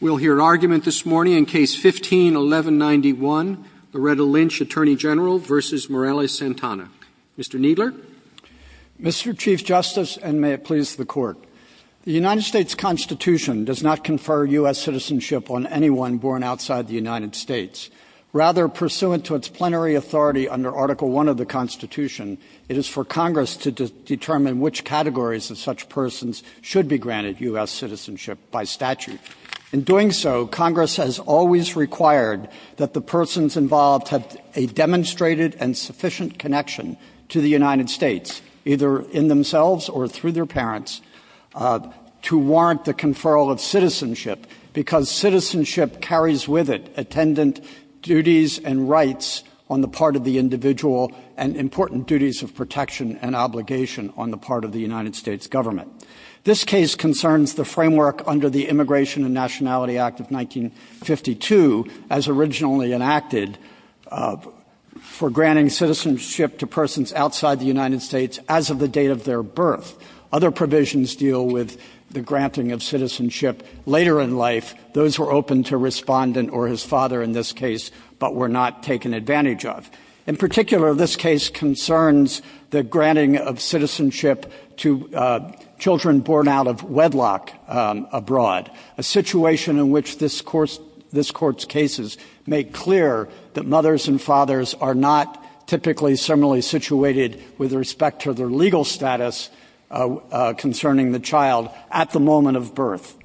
We'll hear argument this morning in Case No. 15-1191, Loretta Lynch, Attorney General v. Morales-Santana. Mr. Kneedler. Mr. Chief Justice, and may it please the Court, the United States Constitution does not confer U.S. citizenship on anyone born outside the United States. Rather, pursuant to its plenary authority under Article I of the Constitution, it is for Congress to determine which categories of such persons should be granted U.S. citizenship by statute. In doing so, Congress has always required that the persons involved have a demonstrated and sufficient connection to the United States, either in themselves or through their parents, to warrant the conferral of citizenship because citizenship carries with it attendant duties and rights on the part of the individual and important duties of protection and obligation on the part of the United States government. This case concerns the framework under the Immigration and Nationality Act of 1952, as originally enacted, for granting citizenship to persons outside the United States as of the date of their birth. Other provisions deal with the granting of citizenship later in life. Those were open to Respondent or his father in this case, but were not taken advantage of. In particular, this case concerns the granting of citizenship to children born out of wedlock abroad, a situation in which this Court's cases make clear that mothers and fathers are not typically similarly situated with respect to their legal status concerning the child at the moment of birth.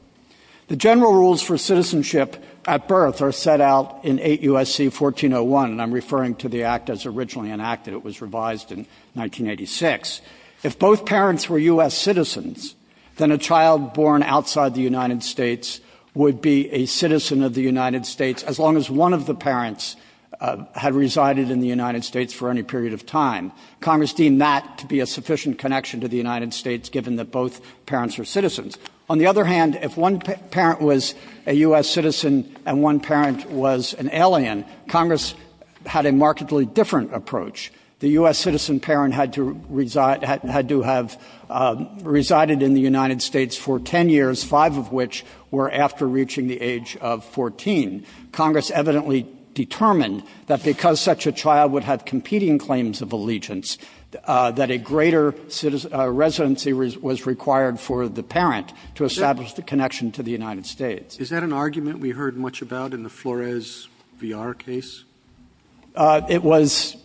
The general rules for citizenship at birth are set out in 8 U.S.C. 1401, and I'm referring to the Act as originally enacted. It was revised in 1986. If both parents were U.S. citizens, then a child born outside the United States would be a citizen of the United States as long as one of the parents had resided in the United States for any period of time. Congress deemed that to be a sufficient connection to the United States, given that both parents are citizens. On the other hand, if one parent was a U.S. citizen and one parent was an alien, Congress had a markedly different approach. The U.S. citizen parent had to reside to have resided in the United States for 10 years, five of which were after reaching the age of 14. Congress evidently determined that because such a child would have competing claims of allegiance, that a greater residency was required for the parent to establish the connection to the United States. Is that an argument we heard much about in the Flores v. R. case? It was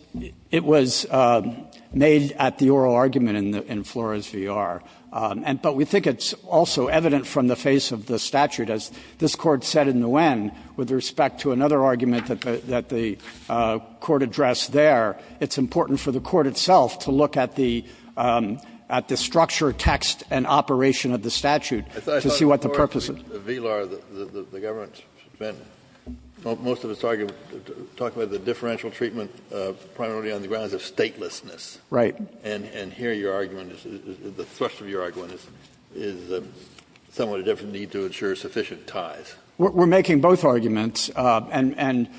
made at the oral argument in Flores v. R., but we think it's also evident from the face of the statute. As this Court said in the Nguyen, with respect to another argument that the Court addressed there, it's important for the Court itself to look at the structure, text, and operation of the statute to see what the purpose is. In Flores v. R., the government spent most of its argument talking about the differential treatment primarily on the grounds of statelessness. Right. And here your argument, the thrust of your argument is somewhat a different need to ensure sufficient ties. We're making both arguments, and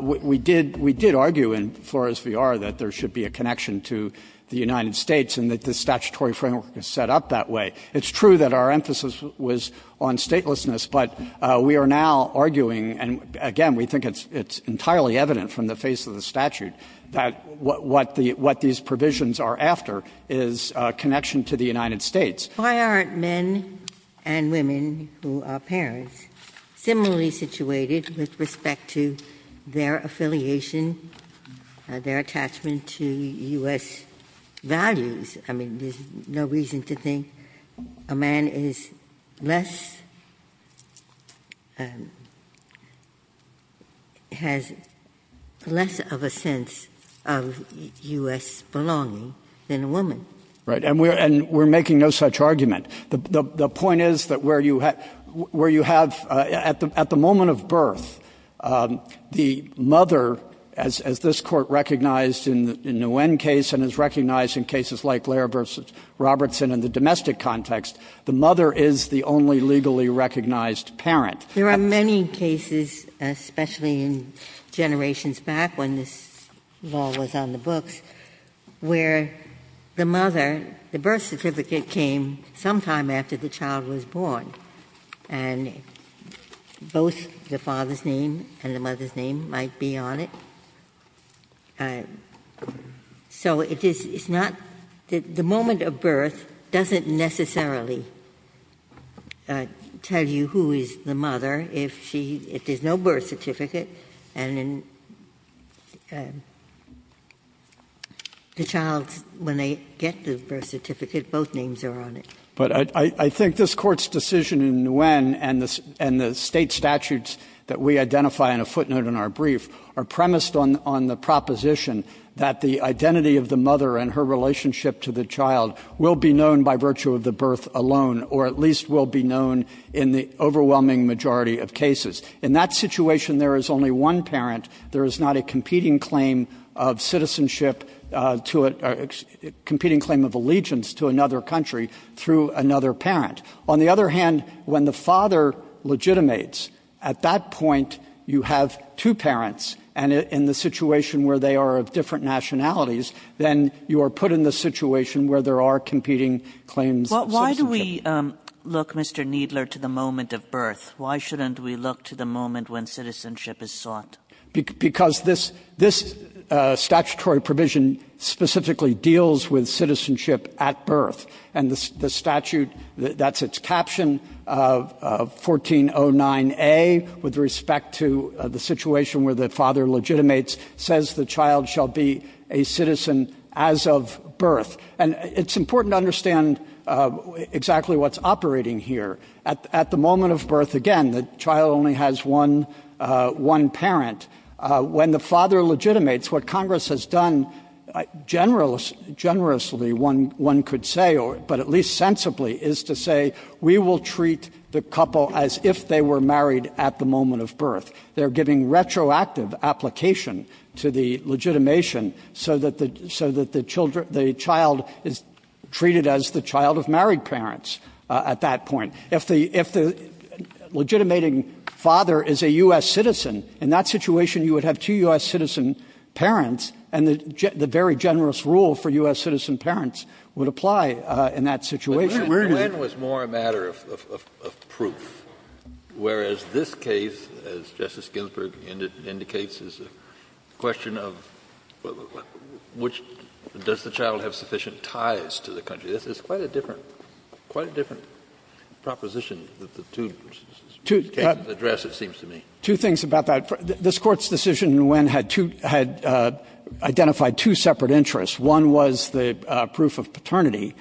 we did argue in Flores v. R. that there should be a connection to the United States and that the statutory framework is set up that way. It's true that our emphasis was on statelessness, but we are now arguing, and again, we think it's entirely evident from the face of the statute that what these provisions are after is a connection to the United States. Why aren't men and women who are parents similarly situated with respect to their affiliation, their attachment to U.S. values? I mean, there's no reason to think that a man is less — has less of a sense of U.S. belonging than a woman. Right. And we're making no such argument. The point is that where you have — at the moment of birth, the mother, as this Court recognized in the Nguyen case and has recognized in cases like Lehrer v. Robertson in the domestic context, the mother is the only legally recognized parent. There are many cases, especially in generations back when this law was on the books, where the mother — the birth certificate came sometime after the child was born, and both the father's name and the mother's name might be on it. So it is — it's not — the moment of birth doesn't necessarily tell you who is the mother if she — if there's no birth certificate, and the child, when they get the birth certificate, both names are on it. But I think this Court's decision in Nguyen and the State statutes that we identify in a footnote in our brief are premised on the proposition that the identity of the mother and her relationship to the child will be known by virtue of the birth alone, or at least will be known in the overwhelming majority of cases. In that situation, there is only one parent. There is not a competing claim of citizenship to a — competing claim of allegiance to another country through another parent. On the other hand, when the father legitimates, at that point, you have two parents, and in the situation where they are of different nationalities, then you are put in the situation where there are competing claims of citizenship. KAGANS Why do we look, Mr. Kneedler, to the moment of birth? Why shouldn't we look to the moment when citizenship is sought? KNEEDLER Because this — this statutory provision specifically deals with citizenship at birth. And the statute — that's its caption, 1409A, with respect to the situation where the father legitimates, says the child shall be a citizen as of birth. And it's important to understand exactly what's operating here. At the moment of birth, again, the child only has one — one parent. When the father legitimates, what Congress has done generously, one could say, but at least sensibly, is to say, we will treat the couple as if they were married at the moment of birth. They're giving retroactive application to the legitimation so that the — so that the child is treated as the child of married parents at that point. If the — if the legitimating father is a U.S. citizen, in that situation, you would have two U.S. citizen parents, and the very generous rule for U.S. citizens in that situation. Kennedy But Nguyen was more a matter of — of proof, whereas this case, as Justice Ginsburg indicates, is a question of which — does the child have sufficient ties to the country? This is quite a different — quite a different proposition that the two cases address, it seems to me. Kneedler Two things about that. This Court's decision, Nguyen, had two — had identified two separate interests. One was the proof of paternity,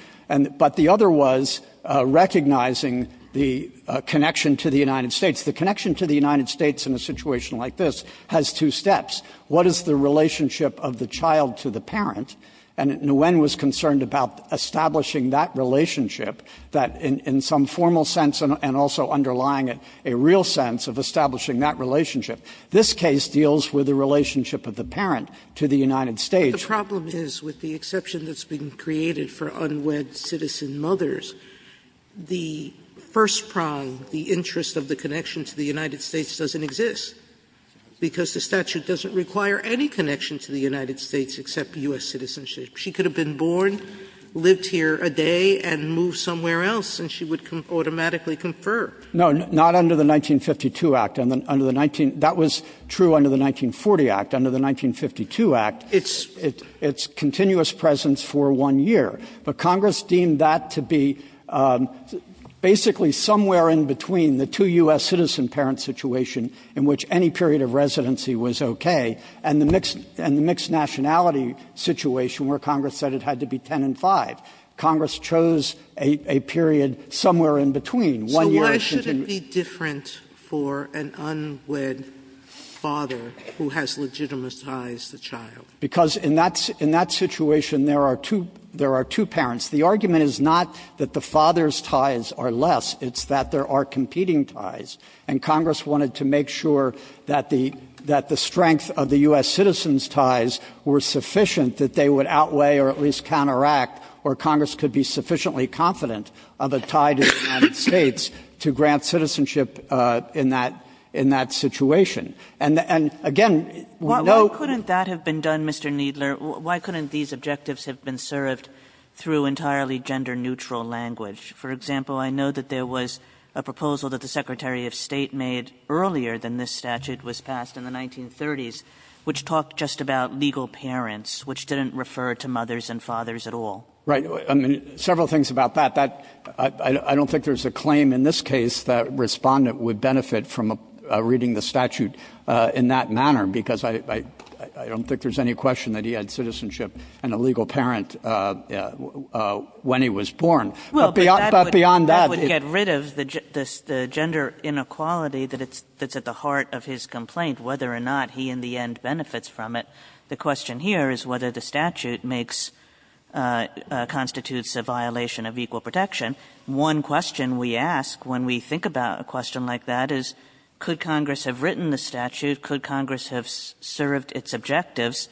but the other was recognizing the connection to the United States. The connection to the United States in a situation like this has two steps. What is the relationship of the child to the parent? And Nguyen was concerned about establishing that relationship that, in some formal sense and also underlying it, a real sense of establishing that relationship. This case deals with the relationship of the parent to the United States. Sotomayor The problem is, with the exception that's been created for unwed citizen mothers, the first prong, the interest of the connection to the United States doesn't exist, because the statute doesn't require any connection to the United States except U.S. citizenship. She could have been born, lived here a day, and moved somewhere else, and she would automatically confer. Kneedler No, not under the 1952 Act. Under the 19 — that was true under the 1940 Act. Under the 1952 Act, it's continuous presence for one year. But Congress deemed that to be basically somewhere in between the two U.S. citizen parent situation, in which any period of residency was okay, and the mixed — and the mixed nationality situation, where Congress said it had to be 10 and 5. Congress chose a period somewhere in between, one year of continuous — Sotomayor For an unwed father who has legitimate ties to the child. Kneedler Because in that — in that situation, there are two — there are two parents. The argument is not that the father's ties are less. It's that there are competing ties. And Congress wanted to make sure that the — that the strength of the U.S. citizen's ties were sufficient, that they would outweigh or at least counteract, or Congress could be sufficiently confident of a tie to the United States to grant citizenship in that — in that situation. And again, we know — Kagan Why couldn't that have been done, Mr. Kneedler? Why couldn't these objectives have been served through entirely gender-neutral language? For example, I know that there was a proposal that the Secretary of State made earlier than this statute was passed in the 1930s, which talked just about legal parents, which didn't refer to mothers and fathers at all. Kneedler Right. I mean, several things about that. That — I don't think there's a claim in this case that Respondent would benefit from reading the statute in that manner, because I don't think there's any question that he had citizenship and a legal parent when he was born. But beyond that — Kagan Well, but that would get rid of the gender inequality that's at the heart of his complaint, whether or not he in the end benefits from it. The question here is whether the statute makes — constitutes a violation of equal protection. One question we ask when we think about a question like that is, could Congress have written the statute? Could Congress have served its objectives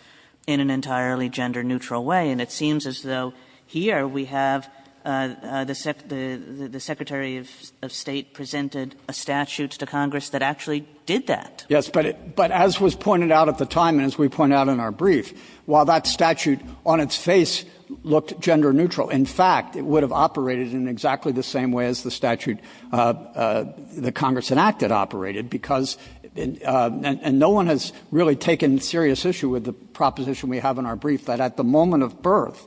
in an entirely gender-neutral way? And it seems as though here we have the — the Secretary of State presented a statute to Congress that actually did that. Kneedler Yes. But as was pointed out at the time and as we point out in our brief, while that statute on its face looked gender-neutral, in fact, it would have operated in exactly the same way as the statute that Congress enacted operated, because — and no one has really taken serious issue with the proposition we have in our brief, that at the moment of birth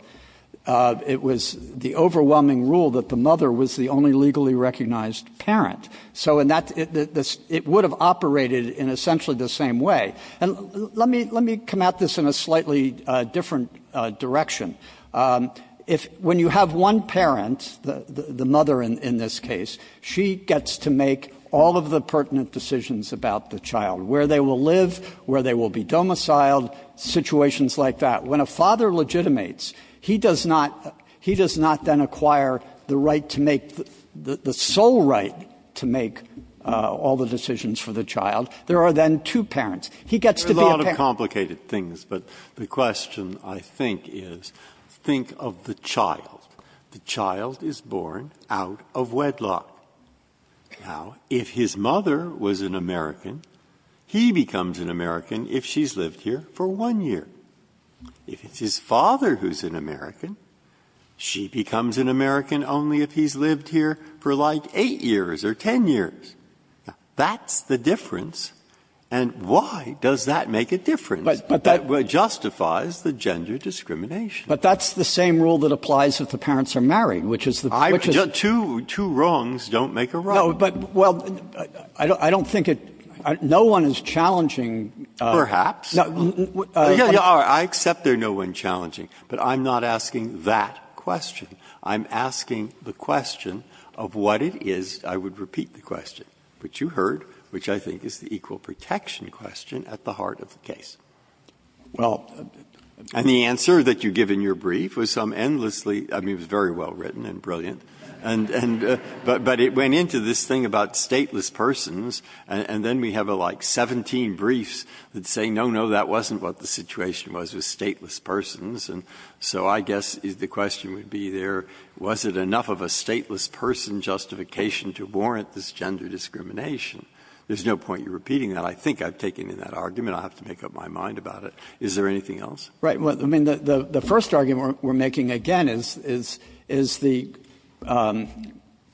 it was the overwhelming rule that the mother was the only legally recognized parent. So in that — it would have operated in essentially the same way. And let me — let me come at this in a slightly different direction. If — when you have one parent, the mother in this case, she gets to make all of the pertinent decisions about the child, where they will live, where they will be domiciled, situations like that. When a father legitimates, he does not — he does not then acquire the right to make — the sole right to make all the decisions for the child. There are then two parents. He gets to be a parent. Breyer There are a lot of complicated things. But the question, I think, is think of the child. The child is born out of wedlock. Now, if his mother was an American, he becomes an American if she's lived here for one year. If it's his father who's an American, she becomes an American only if he's lived here for, like, eight years or ten years. Now, that's the difference. And why does that make a difference? It justifies the gender discrimination. Kneedler But that's the same rule that applies if the parents are married, which is the — which is — Breyer Two — two wrongs don't make a wrong. Kneedler No, but — well, I don't think it — no one is challenging — Breyer Perhaps. Yeah, yeah, all right. I accept there are no one challenging. But I'm not asking that question. I'm asking the question of what it is — I would repeat the question — which you heard, which I think is the equal protection question at the heart of the case. And the answer that you give in your brief was some endlessly — I mean, it was very well written and brilliant. But it went into this thing about stateless persons, and then we have, like, 17 briefs that say, no, no, that wasn't what the situation was with stateless persons. And so I guess the question would be there, was it enough of a stateless person justification to warrant this gender discrimination? There's no point in repeating that. I think I've taken in that argument. I'll have to make up my mind about it. Is there anything else? Kneedler Right. Well, I mean, the first argument we're making, again, is the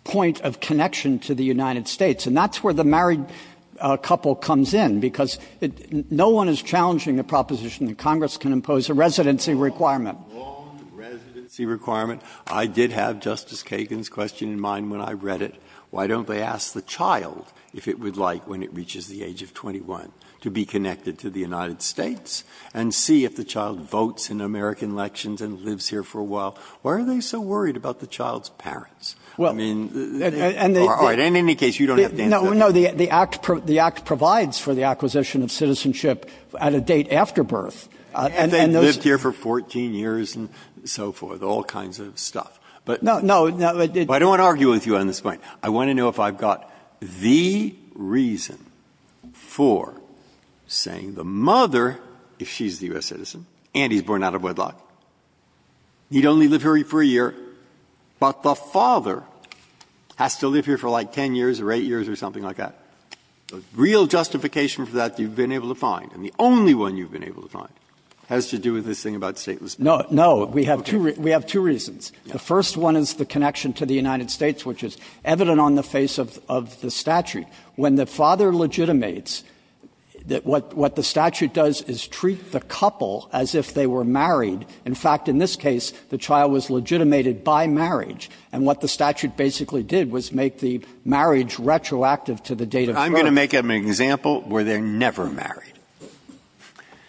point of connection to the United States. And that's where the married couple comes in, because no one is challenging the requirement. Breyer. I did have Justice Kagan's question in mind when I read it. Why don't they ask the child if it would like, when it reaches the age of 21, to be connected to the United States and see if the child votes in American elections and lives here for a while? Why are they so worried about the child's parents? I mean — Kneedler Well, and they — Breyer. All right. In any case, you don't have to answer that. Kneedler No, no. The Act provides for the acquisition of citizenship at a date after birth. And those — Breyer. I mean, I don't want to argue with you on this point. I want to know if I've got the reason for saying the mother, if she's the U.S. citizen and he's born out of wedlock, need only live here for a year, but the father has to live here for like 10 years or 8 years or something like that. The real justification for that you've been able to find, and the only one you've been able to find, has to do with this thing about stateless men. Kneedler No. No. Breyer. Okay. Kneedler We have two reasons. The first one is the connection to the United States, which is evident on the face of the statute. When the father legitimates, what the statute does is treat the couple as if they were married. In fact, in this case, the child was legitimated by marriage. And what the statute basically did was make the marriage retroactive to the date of birth. Breyer. I'm going to make an example where they're never married.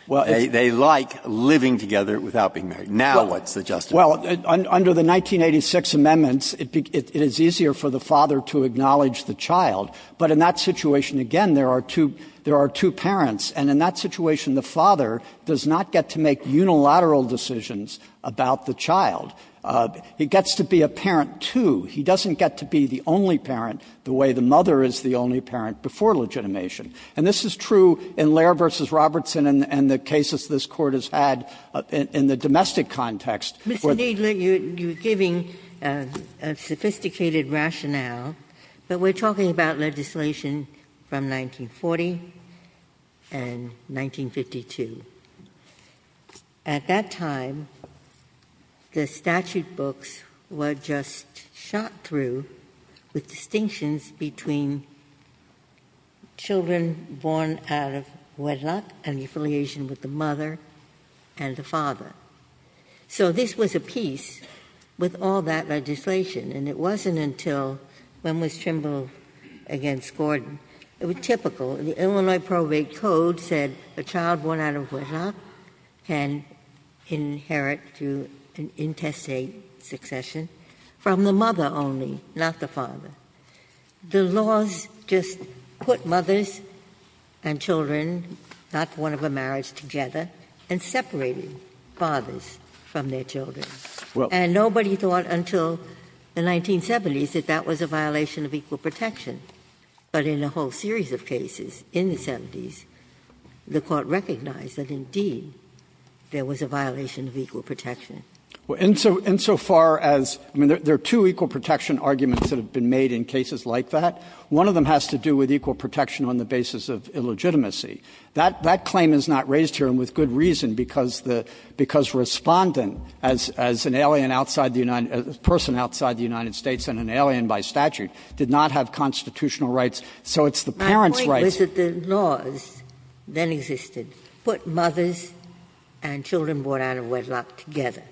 They like living together without being married. Now what's the justification? Kneedler Well, under the 1986 amendments, it is easier for the father to acknowledge the child. But in that situation, again, there are two parents. And in that situation, the father does not get to make unilateral decisions about the child. He gets to be a parent, too. He doesn't get to be the only parent the way the mother is the only parent before legitimation. And this is true in Lehrer v. Robertson and the cases this Court has had in the domestic context. Ginsburg. Mr. Kneedler, you're giving a sophisticated rationale. But we're talking about legislation from 1940 and 1952. At that time, the statute books were just shot through with distinctions between children born out of wedlock and the affiliation with the mother and the father. So this was a piece with all that legislation. And it wasn't until when Ms. Trimble against Gordon. It was typical. The Illinois probate code said a child born out of wedlock can inherit through an intestate succession from the mother only, not the father. The laws just put mothers and children not born of a marriage together and separated fathers from their children. And nobody thought until the 1970s that that was a violation of equal protection. But in a whole series of cases in the 70s, the Court recognized that, indeed, there was a violation of equal protection. Kneedler. Insofar as there are two equal protection arguments that have been made in cases like that. One of them has to do with equal protection on the basis of illegitimacy. That claim is not raised here, and with good reason, because Respondent, as an alien by statute, did not have constitutional rights. So it's the parents' rights. My point was that the laws that existed put mothers and children born out of wedlock together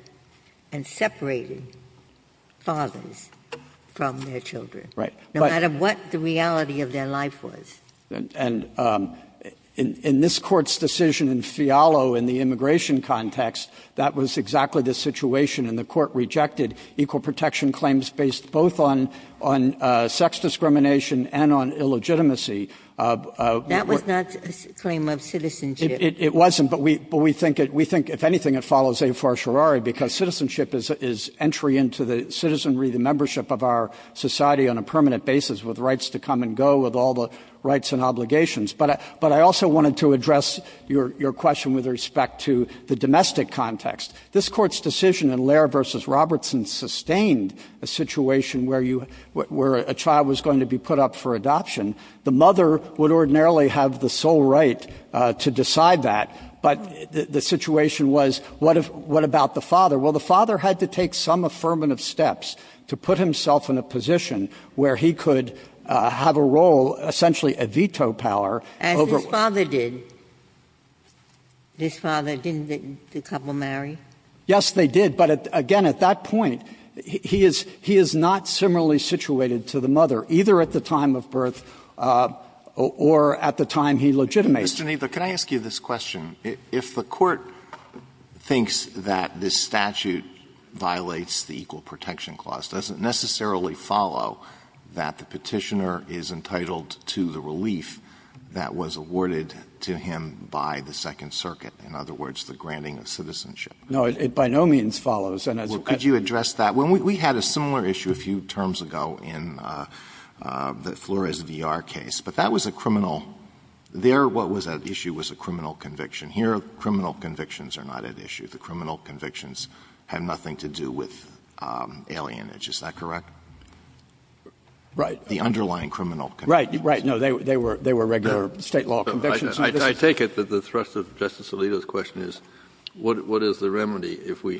and separated fathers from their children. Right. No matter what the reality of their life was. And in this Court's decision in Fialo in the immigration context, that was exactly the situation. And the Court rejected equal protection claims based both on sex discrimination and on illegitimacy. That was not a claim of citizenship. It wasn't. But we think, if anything, it follows a farsharari, because citizenship is entry into the citizenry, the membership of our society on a permanent basis with rights to come and go, with all the rights and obligations. But I also wanted to address your question with respect to the domestic context. This Court's decision in Lehrer v. Robertson sustained a situation where you – where a child was going to be put up for adoption. The mother would ordinarily have the sole right to decide that, but the situation was, what about the father? Well, the father had to take some affirmative steps to put himself in a position where he could have a role, essentially a veto power. As his father did. His father, didn't the couple marry? Yes, they did. But, again, at that point, he is not similarly situated to the mother, either at the time of birth or at the time he legitimates. Mr. Kneedler, can I ask you this question? If the Court thinks that this statute violates the Equal Protection Clause, does it necessarily follow that the Petitioner is entitled to the relief that was awarded to him by the Second Circuit? In other words, the granting of citizenship. No, it by no means follows. Well, could you address that? We had a similar issue a few terms ago in the Flores v. R. case. But that was a criminal – there, what was at issue was a criminal conviction. Here, criminal convictions are not at issue. The criminal convictions have nothing to do with alienation. Is that correct? Right. The underlying criminal convictions. Right, right. No, they were regular State law convictions. I take it that the thrust of Justice Alito's question is, what is the remedy? If we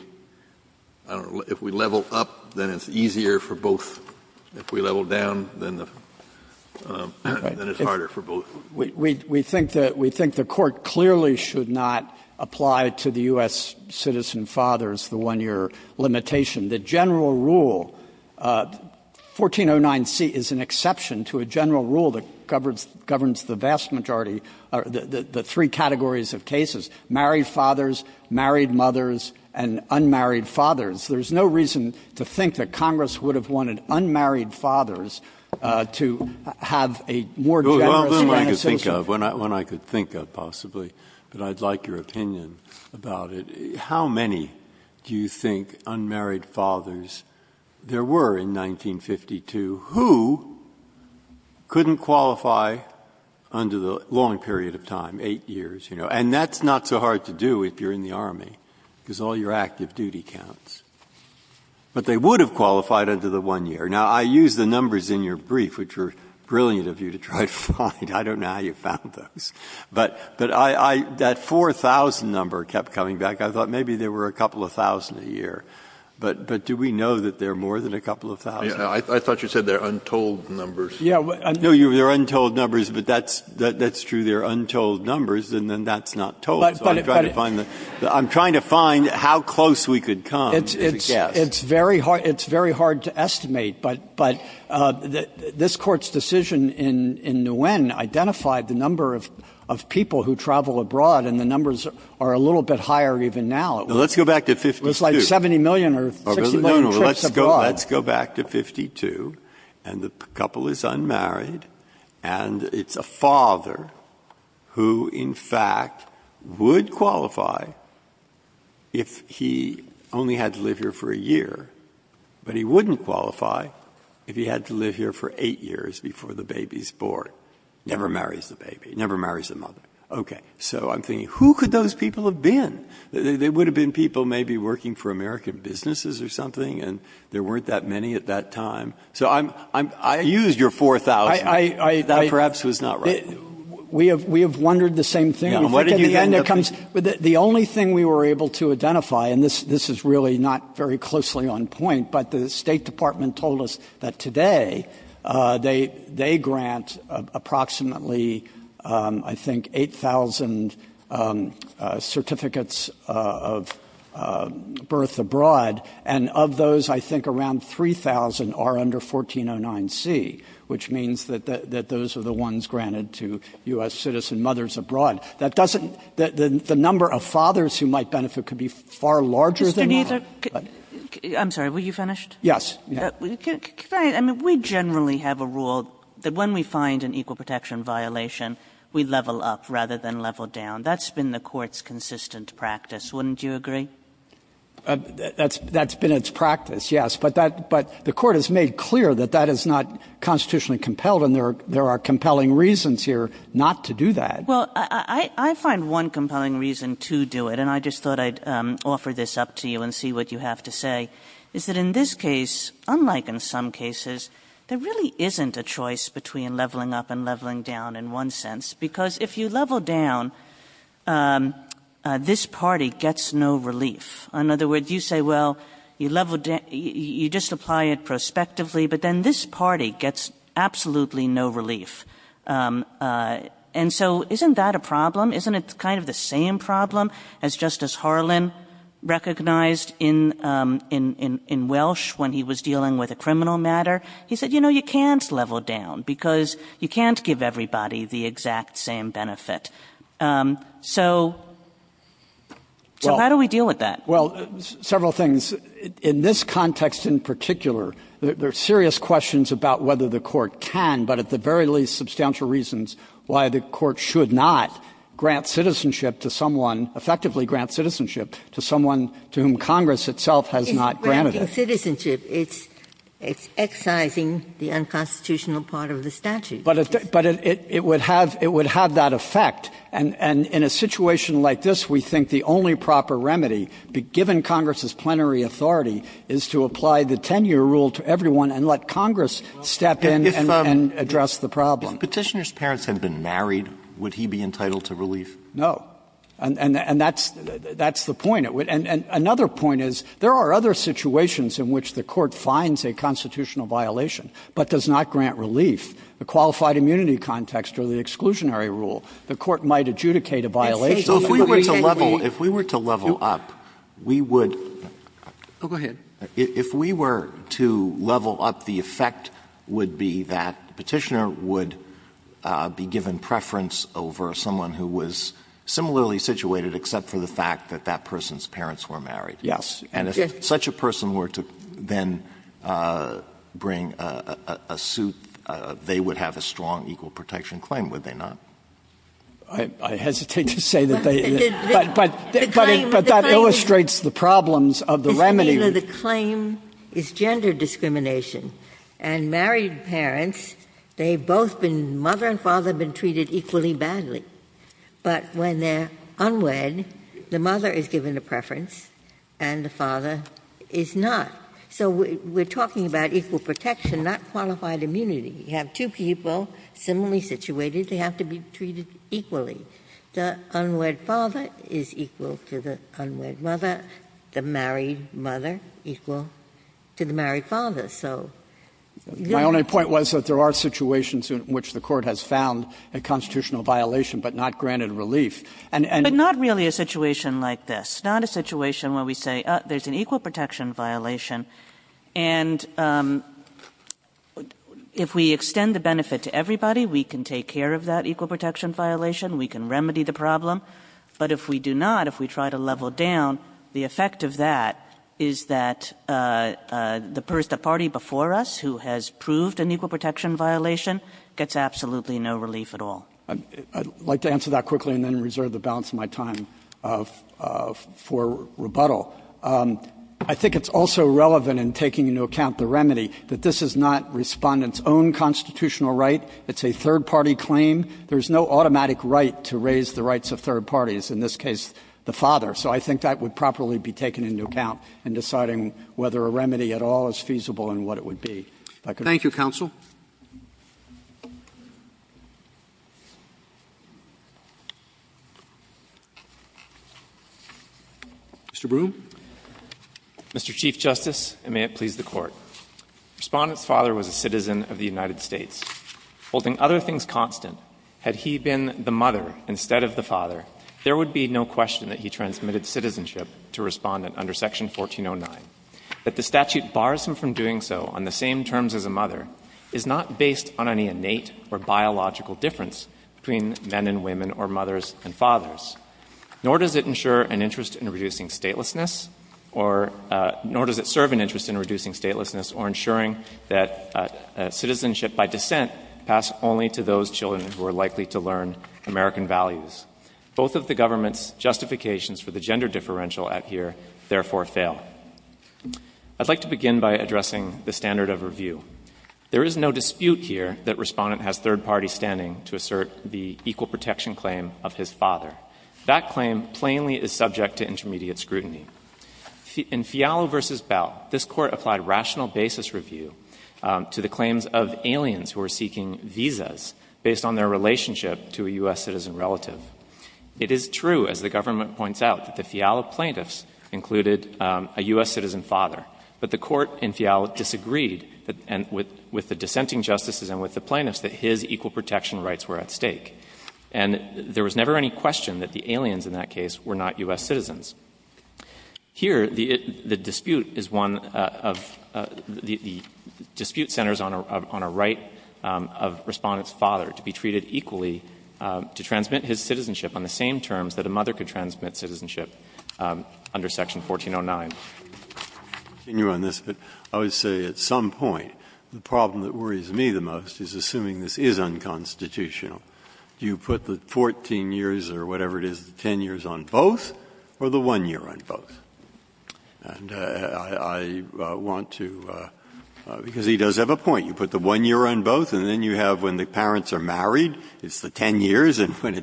level up, then it's easier for both. If we level down, then it's harder for both. We think the Court clearly should not apply to the U.S. citizen father's, the one-year limitation. The general rule, 1409C, is an exception to a general rule that governs the vast majority – the three categories of cases, married fathers, married mothers, and unmarried fathers. There's no reason to think that Congress would have wanted unmarried fathers to have a more generous grant of citizenship. Well, one I could think of, possibly. But I'd like your opinion about it. How many do you think unmarried fathers there were in 1952 who couldn't qualify under the long period of time, eight years? And that's not so hard to do if you're in the Army, because all your active duty counts. But they would have qualified under the one year. Now, I used the numbers in your brief, which were brilliant of you to try to find. I don't know how you found those. But that 4000 number kept coming back. I thought maybe there were a couple of thousand a year. But do we know that there are more than a couple of thousand? I thought you said they're untold numbers. No, they're untold numbers, but that's true. They're untold numbers, and then that's not told. So I'm trying to find how close we could come as a guess. It's very hard to estimate. But this Court's decision in Nguyen identified the number of people who travel abroad, and the numbers are a little bit higher even now. Let's go back to 52. It's like 70 million or 60 million trips abroad. Let's go back to 52. And the couple is unmarried. And it's a father who, in fact, would qualify if he only had to live here for a year. But he wouldn't qualify if he had to live here for eight years before the baby's born. Never marries the baby. Never marries the mother. Okay. So I'm thinking, who could those people have been? They would have been people maybe working for American businesses or something, and there weren't that many at that time. So I used your 4,000. That perhaps was not right. We have wondered the same thing. The only thing we were able to identify, and this is really not very closely on point, but the State Department told us that today they grant approximately, I think, 8,000 certificates of birth abroad. And of those, I think around 3,000 are under 1409C, which means that those are the ones granted to U.S. citizen mothers abroad. The number of fathers who might benefit could be far larger than that. I'm sorry. Were you finished? Yes. We generally have a rule that when we find an equal protection violation, we level up rather than level down. That's been the Court's consistent practice. Wouldn't you agree? That's been its practice, yes. But the Court has made clear that that is not constitutionally compelled, and there are compelling reasons here not to do that. Well, I find one compelling reason to do it, and I just thought I'd offer this up to you and see what you have to say, is that in this case, unlike in some cases, there really isn't a choice between leveling up and leveling down in one sense because if you level down, this party gets no relief. In other words, you say, well, you just apply it prospectively, but then this party gets absolutely no relief. And so isn't that a problem? Isn't it kind of the same problem as Justice Harlan recognized in Welsh when he was dealing with a criminal matter? He said, you know, you can't level down because you can't give everybody the exact same benefit. So how do we deal with that? Well, several things. In this context in particular, there are serious questions about whether the Court can, but at the very least substantial reasons why the Court should not grant citizenship to someone, effectively grant citizenship to someone to whom Congress itself has not granted it. It's granting citizenship. It's excising the unconstitutional part of the statute. But it would have that effect. And in a situation like this, we think the only proper remedy, given Congress's plenary authority, is to apply the 10-year rule to everyone and let Congress step in and address the problem. If Petitioner's parents had been married, would he be entitled to relief? No. And that's the point. And another point is there are other situations in which the Court finds a constitutional violation but does not grant relief. The qualified immunity context or the exclusionary rule, the Court might adjudicate a violation. So if we were to level up, we would... Oh, go ahead. If we were to level up, the effect would be that Petitioner would be given preference over someone who was similarly situated except for the fact that that person's parents were married. Yes. And if such a person were to then bring a suit, they would have a strong equal protection claim, would they not? I hesitate to say that they... But that illustrates the problems of the remedy. The claim is gender discrimination. And married parents, they've both been... Mother and father have been treated equally badly. But when they're unwed, the mother is given a preference and the father is not. So we're talking about equal protection, not qualified immunity. You have two people similarly situated, they have to be treated equally. The unwed father is equal to the unwed mother. The married mother equal to the married father. So... My only point was that there are situations in which the Court has found a constitutional violation but not granted relief. But not really a situation like this. Not a situation where we say, there's an equal protection violation and if we extend the benefit to everybody, we can take care of that equal protection violation, we can remedy the problem. But if we do not, if we try to level down, the effect of that is that the party before us who has proved an equal protection violation gets absolutely no relief at all. I'd like to answer that quickly and then reserve the balance of my time for rebuttal. I think it's also relevant in taking into account the remedy that this is not Respondent's own constitutional right. It's a third party claim. There's no automatic right to raise the rights of third parties, in this case, the father. So I think that would properly be taken into account in deciding whether a remedy at all is feasible and what it would be. Thank you, Counsel. Mr. Broom. Mr. Chief Justice, and may it please the Court. Respondent's father was a citizen of the United States. Holding other things constant, had he been the mother instead of the father, there would be no question that he transmitted citizenship to Respondent under Section 1409. That the statute bars him from doing so on the same terms as a mother is not based on any innate or biological difference between men and women or mothers and fathers. Nor does it ensure an interest in reducing statelessness or nor does it serve an interest in reducing statelessness or ensuring that citizenship by descent pass only to those children who are likely to learn American values. Both of the government's justifications for the gender differential at here therefore fail. I'd like to begin by addressing the standard of review. There is no dispute here that Respondent has third party standing to assert the equal protection claim of his father. That claim plainly is subject to intermediate scrutiny. In Fialo v. Bell, this Court applied rational basis review to the claims of aliens who were seeking visas based on their relationship to a U.S. citizen relative. It is true, as the government points out, that the Fialo plaintiffs included a U.S. citizen father, but the Court in Fialo disagreed with the dissenting justices and with the plaintiffs that his equal protection rights were at stake. And there was never any question that the aliens in that case were not U.S. citizens. Here, the dispute is one of the dispute centers on a right of Respondent's father to be treated equally to transmit his citizenship on the same terms that a mother could transmit citizenship under section 1409. I would say at some point the problem that worries me the most is assuming this is unconstitutional. You put the 14 years or whatever it is, the 10 years on both or the one year on both. And I want to because he does have a point. You put the one year on both and then you have when the parents are married it's the 10 years and when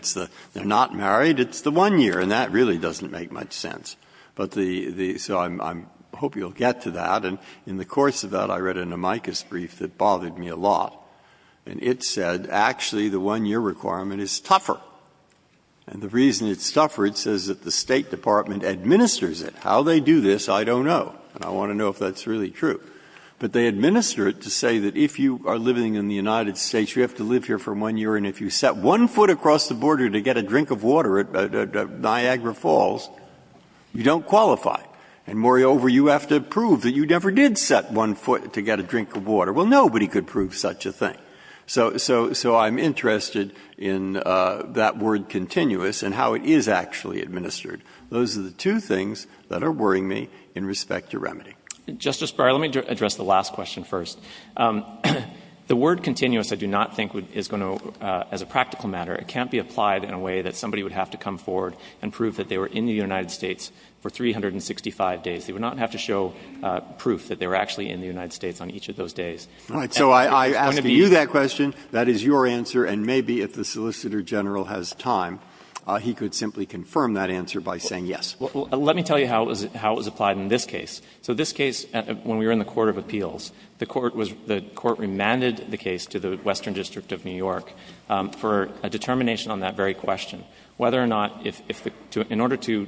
they're not married it's the one year and that really doesn't make much sense. So I hope you'll get to that and in the course of that I read an amicus brief that bothered me a lot and it said actually the one year requirement is tougher and the reason it's tougher it says that the State Department administers it. How they do this, I don't know and I want to know if that's really true but they administer it to say that if you are living in the United States you have to live here for one year and if you set one foot across the border to get a drink of water at Niagara Falls you don't qualify and moreover you have to prove that you never did set one foot to get a drink of water. Well, nobody could prove such a thing. So I'm interested in that word continuous and how it is actually administered. Those are the two things that are worrying me in respect to remedy. Justice Breyer, let me address the last question first. The word continuous I do not think is going to as a practical matter it can't be applied in a way that somebody would have to come forward and prove that they were in the United States for 365 days. They would not have to show proof that they were actually in the United States on each of those days. So I ask you that question that is your answer and maybe if the Solicitor General has time he could simply confirm that answer by saying yes. Let me tell you how it was applied in this case. So this case when we were in the Court of Appeals the Court remanded the case to the Western District of New York for a determination on that very question whether or not in order to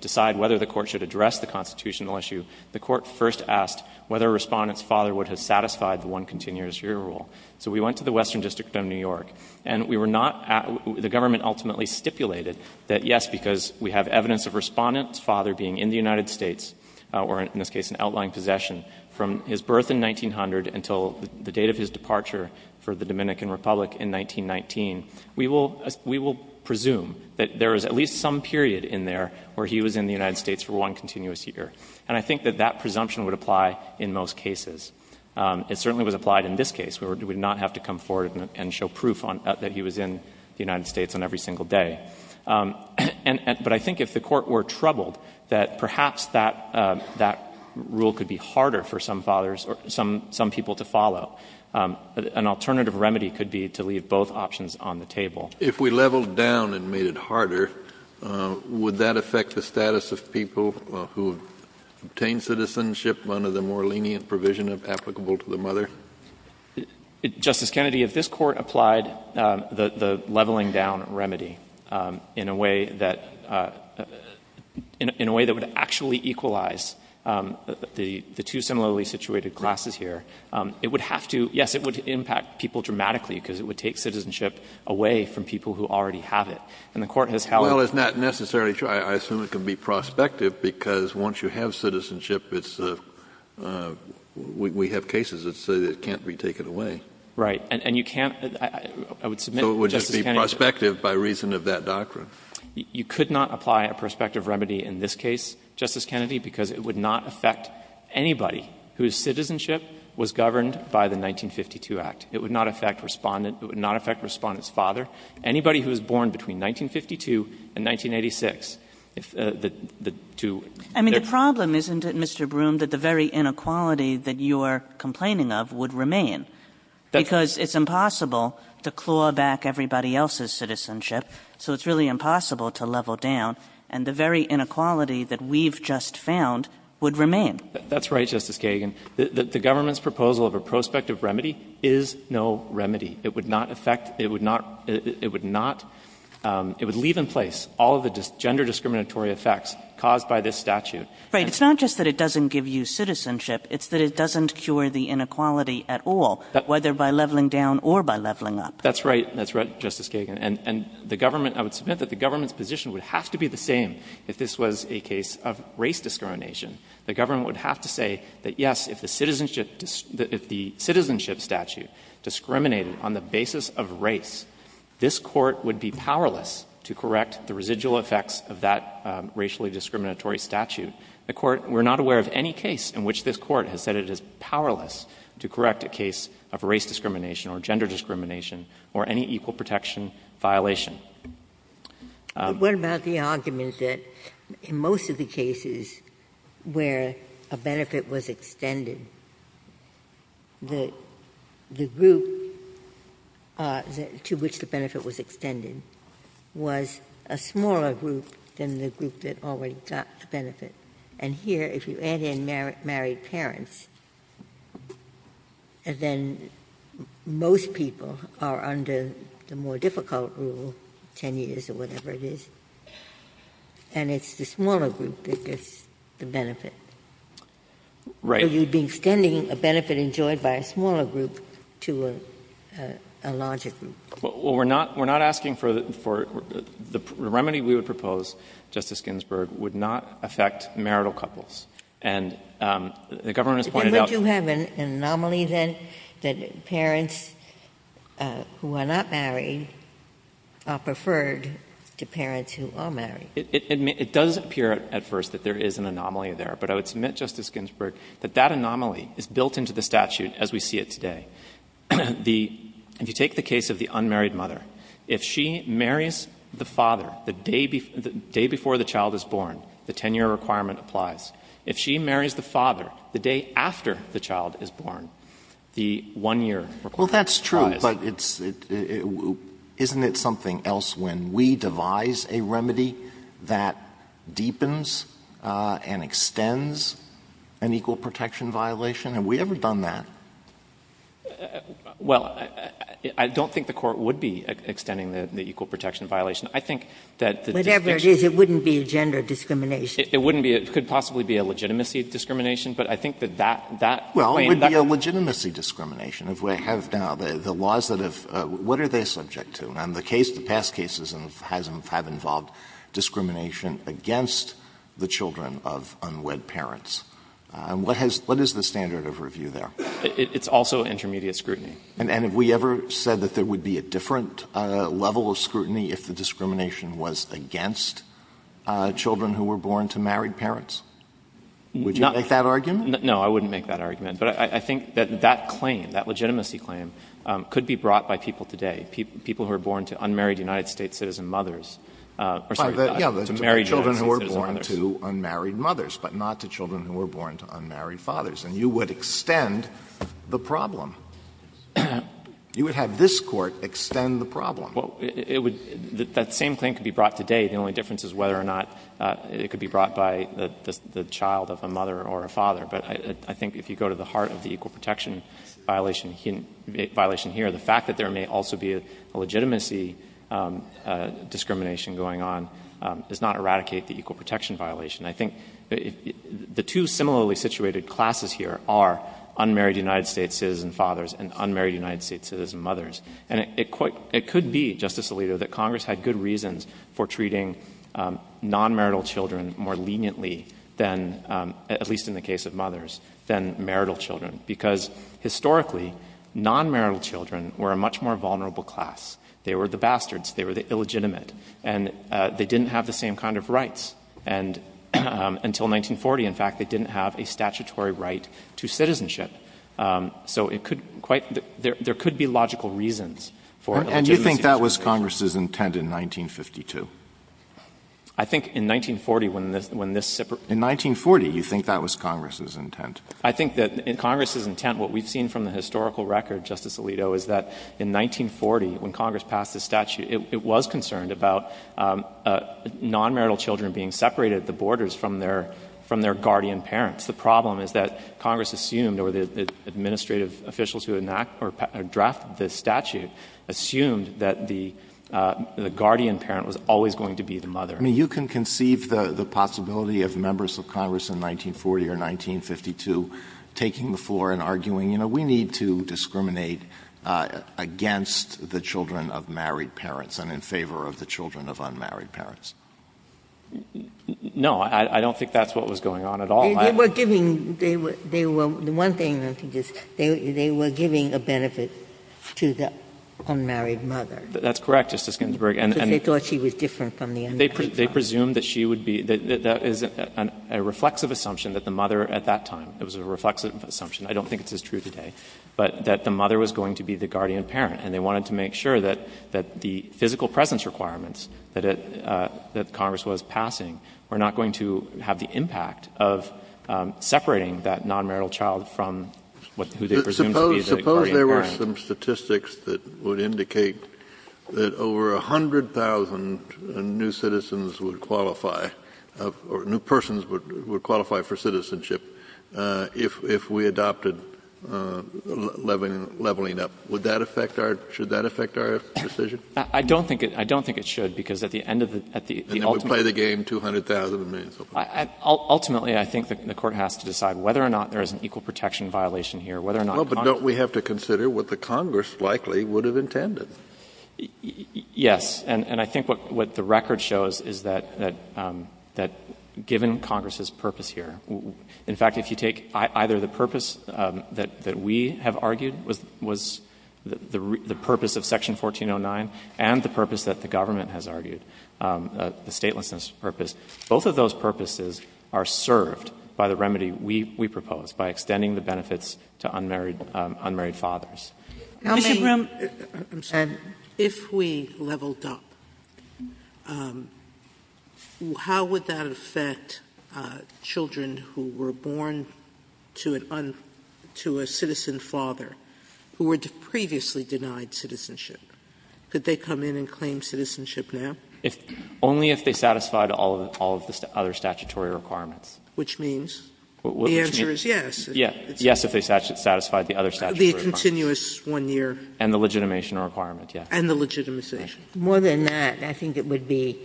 decide whether the Court should address the constitutional issue the Court first asked whether Respondent's father would have satisfied the one continuous year rule. So we went to the Western District of New York and we were not the government ultimately stipulated that yes because we have evidence of Respondent's father being in the United States or in this case an outlying possession from his birth in 1900 until the date of his departure for the Dominican Republic in 1919 we will presume that there is at least some period in there where he was in the United States for one continuous year and I think that that presumption would apply in most cases. It certainly was applied in this case we would not have to come forward and show proof that he was in the United States on every single day. But I think if the Court were troubled that perhaps that rule could be harder for some fathers or some people to follow. An alternative remedy could be to leave both options on the table. If we leveled down and made it harder would that affect the status of people who obtain citizenship under the more lenient provision of applicable to the mother? Justice Kennedy, if this Court applied the leveling down remedy in a way that in a way that would actually equalize the two similarly situated classes here, it would have to yes, it would impact people dramatically because it would take citizenship away from people who already have it. Well, it's not necessarily true. I assume it can be prospective because once you have citizenship we have cases that say it can't be taken away. Right, and you can't So it would just be prospective by reason of that doctrine. You could not apply a prospective remedy in this case Justice Kennedy because it would not affect anybody whose citizenship was governed by the 1952 Act. It would not affect Respondent's father. Anybody who was born between 1952 and 1986 the two I mean the problem isn't it Mr. Broom that the very inequality that you are complaining of would remain because it's impossible to claw back everybody else's citizenship so it's really impossible to level down and the very inequality that we've just found would remain. That's right, Justice Kagan. The government's proposal of a prospective remedy is no remedy. It would not affect it would leave in place all of the gender discriminatory effects caused by this statute. Right, it's not just that it doesn't give you citizenship it's that it doesn't cure the inequality at all whether by leveling down or by leveling up. That's right, Justice Kagan. And the government I would submit that the government's position would have to be the same if this was a case of race discrimination. The government would have to say that yes if the citizenship statute discriminated on the basis of race this Court would be powerless to correct the residual effects of that racially discriminatory statute. The Court, we're not aware of any case in which this Court has said it is powerless to correct a case of race discrimination or gender discrimination or any equal protection violation. What about the argument that in most of the cases where a benefit was extended the group to which the benefit was extended was a smaller group than the group that already got the benefit. And here if you add in married parents then most people are under the more difficult rule 10 years or whatever it is and it's the smaller group that gets the benefit. Right. So you'd be extending a benefit enjoyed by a smaller group to a larger group. Well, we're not asking for the remedy we would propose Justice Ginsburg would not affect marital couples. And the government has pointed out Would you have an anomaly then that parents who are not married are preferred to parents who are married? It does appear at first that there is an anomaly there but I would submit Justice Ginsburg that that anomaly is built into the statute as we see it today. If you take the case of the unmarried mother if she marries the father the day before the child is born the 10 year requirement applies. If she marries the father the day after the child is born the one year requirement applies. Well, that's true Isn't it something else when we devise a remedy that deepens and extends an equal protection violation? Have we ever done that? Well, I don't think the court would be extending the equal protection violation. I think that the Whatever it is, it wouldn't be a gender discrimination. It wouldn't be. It could possibly be a legitimacy discrimination. But I think that that Well, it would be a legitimacy discrimination if we have now the laws that have what are they subject to? And the case, the past cases have involved discrimination against the children of unwed parents. What is the standard of review there? It's also intermediate scrutiny. And have we ever said that there would be a different level of scrutiny if the discrimination was against children who were born to married parents? Would you make that argument? No, I wouldn't make that argument. But I think that that claim, that legitimacy claim could be brought by people today. People who are born to unmarried United States citizen mothers are subject to that. Children who are born to unmarried mothers, but not to children who are born to unmarried fathers. And you would extend the problem. You would have this Court extend the problem. That same claim could be brought today. The only difference is whether or not it could be brought by the child of a mother or a father. But I think if you go to the heart of the equal protection violation here, the fact that there may also be a legitimacy discrimination going on does not eradicate the equal protection violation. I think the two similarly situated classes here are unmarried United States citizen fathers and unmarried United States citizen mothers. And it could be, Justice Alito, that Congress had good reasons for treating non-marital children more leniently than, at least in the case of mothers, than marital children. Because historically, non-marital children were a much more vulnerable class. They were the bastards. They were the illegitimate. And they didn't have the same kind of rights. And until 1940, in fact, they didn't have a statutory right to citizenship. So there could be logical reasons for illegitimacy. And you think that was Congress's intent in 1952? I think in 1940, when this separate... In 1940, you think that was Congress's intent? I think that in Congress's intent, what we've seen from the historical record, Justice Alito, is that in 1940, when Congress passed this statute, it was concerned about non-marital children being separated at the borders from their guardian parents. The problem is that Congress assumed, or the administrative officials who drafted this statute assumed that the guardian parent was always going to be the mother. I mean, you can conceive the possibility of members of Congress in 1940 or 1952 taking the floor and arguing, you know, we need to discriminate against the children of married parents and in favor of the children of unmarried parents. No, I don't think that's what was going on at all. They were giving... The one thing I think is they were giving a benefit to the unmarried mother. That's correct, Justice Ginsburg. Because they thought she was different from the unmarried mother. They presumed that she would be the... That is a reflexive assumption that the mother at that time, it was a reflexive assumption. I don't think it's as true today. But that the mother was going to be the guardian parent and they wanted to make sure that the physical presence requirements that Congress was passing were not going to have the impact of separating that non-marital child from who they presumed to be the guardian parent. Suppose there were some statistics that would indicate that over 100,000 new citizens would qualify, or new persons would qualify for citizenship if we adopted leveling up. Would that affect our... Should that affect our decision? I don't think it should, because at the end of the... And it would play the game 200,000... Ultimately, I think the Court has to decide whether or not there is an equal protection violation here, whether or not Congress... Well, but don't we have to consider what the Congress likely would have intended? Yes. And I think what the record shows is that given Congress's purpose here, in fact, if you take either the purpose that we have argued was the purpose of Section 1409 and the purpose that the government has argued, the statelessness purpose, both of those purposes are served by the remedy we propose, by extending the benefits to unmarried fathers. Mr. Brown... I'm sorry. If we leveled up, how would that affect children who were born to a citizen father who were previously denied citizenship? Could they come in and claim citizenship now? Only if they satisfied all of the other statutory requirements. Which means? The answer is yes. Yes, if they satisfied the other statutory requirements. The continuous one-year... And the legitimation requirement, yes. And the legitimization. More than that, I think it would be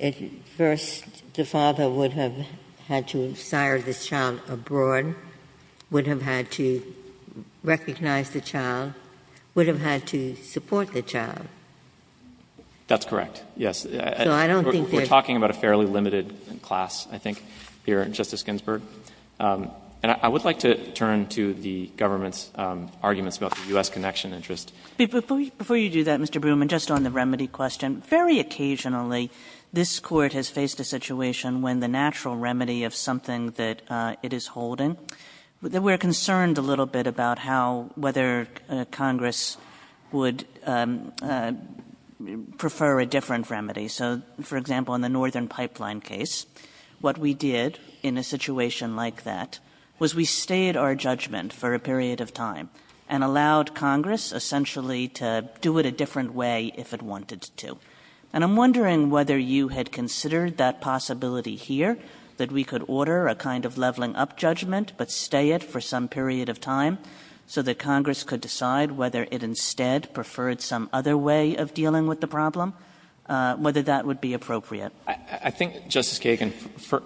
at first the father would have had to sire the child abroad, would have had to recognize the child, would have had to support the child. That's correct, yes. So I don't think that... We're talking about a fairly limited class, I think, here, Justice Ginsburg. And I would like to turn to the government's arguments about the U.S. connection interest. Before you do that, Mr. Broom, and just on the remedy question, very occasionally this Court has faced a situation when the natural remedy of something that it is holding, we're concerned a little bit about how, whether Congress would prefer a different remedy. So, for example, in the Northern Pipeline case, what we did in a situation like that was we stayed our judgment for a period of time and allowed Congress, essentially, to do it a different way if it wanted to. And I'm wondering whether you had considered that possibility here, that we could order a kind of leveling-up judgment but stay it for some period of time so that Congress could decide whether it instead preferred some other way of dealing with the problem, whether that would be appropriate. I think, Justice Kagan,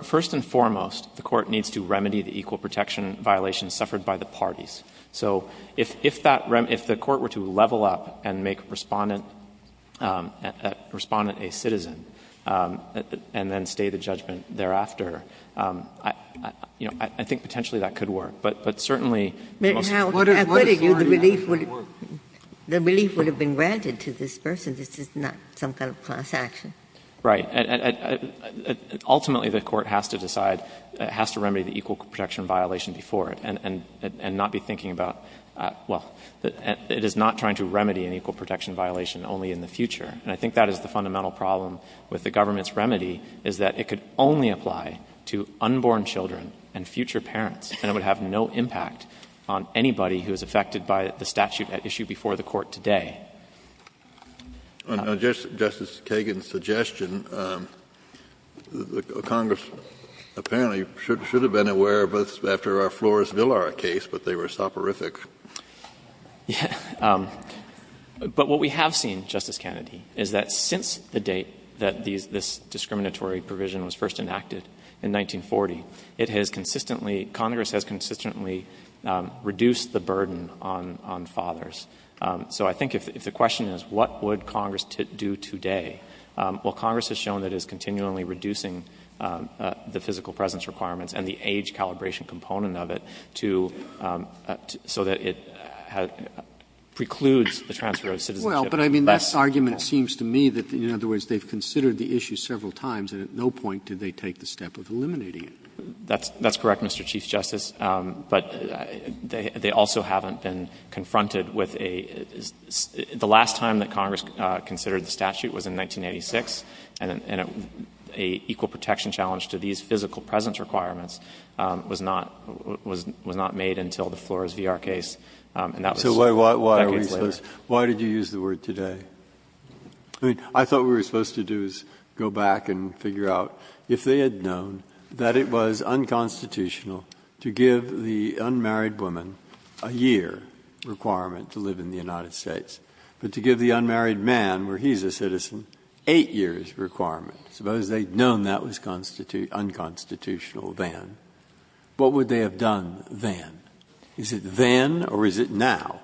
first and foremost, the Court needs to remedy the equal protection violations suffered by the parties. So if that remedy, if the Court were to level up and make Respondent a citizen and then stay the judgment thereafter, I think potentially that could work. But certainly... Ginsburg. Now, I bet you the relief would have been granted to this person. This is not some kind of class action. Right. Ultimately, the Court has to decide, has to remedy the equal protection violation before it and not be thinking about, well, it is not trying to remedy an equal protection violation only in the future. And I think that is the fundamental problem with the government's remedy, is that it could only apply to unborn children and future parents, and it would have no impact on anybody who is affected by the statute at issue before the Court today. Justice Kagan's suggestion, Congress apparently should have been aware of this after our Flores-Villar case, but they were soporific. But what we have seen, Justice Kennedy, is that since the date that this discriminatory provision was first enacted in 1940, it has consistently, Congress has consistently reduced the burden on fathers. So I think if the question is, what would Congress do today, well, Congress has shown that it is continually reducing the physical presence requirements and the age calibration component of it to, so that it precludes the transfer of citizenship. Robertson, Well, but I mean, that argument seems to me that, in other words, they have considered the issue several times and at no point did they take the step of eliminating it. That's correct, Mr. Chief Justice. But they also haven't been confronted with a — the last time that Congress considered the statute was in 1986, and an equal protection challenge to these physical presence requirements was not made until the Flores-Villar case, and that was decades later. So why did you use the word today? I mean, I thought what we were supposed to do was go back and figure out if they had known that it was unconstitutional to give the unmarried woman a year requirement to live in the United States, but to give the unmarried man, where he's a citizen, eight years requirement, suppose they'd known that was unconstitutional then, what would they have done then? Is it then or is it now?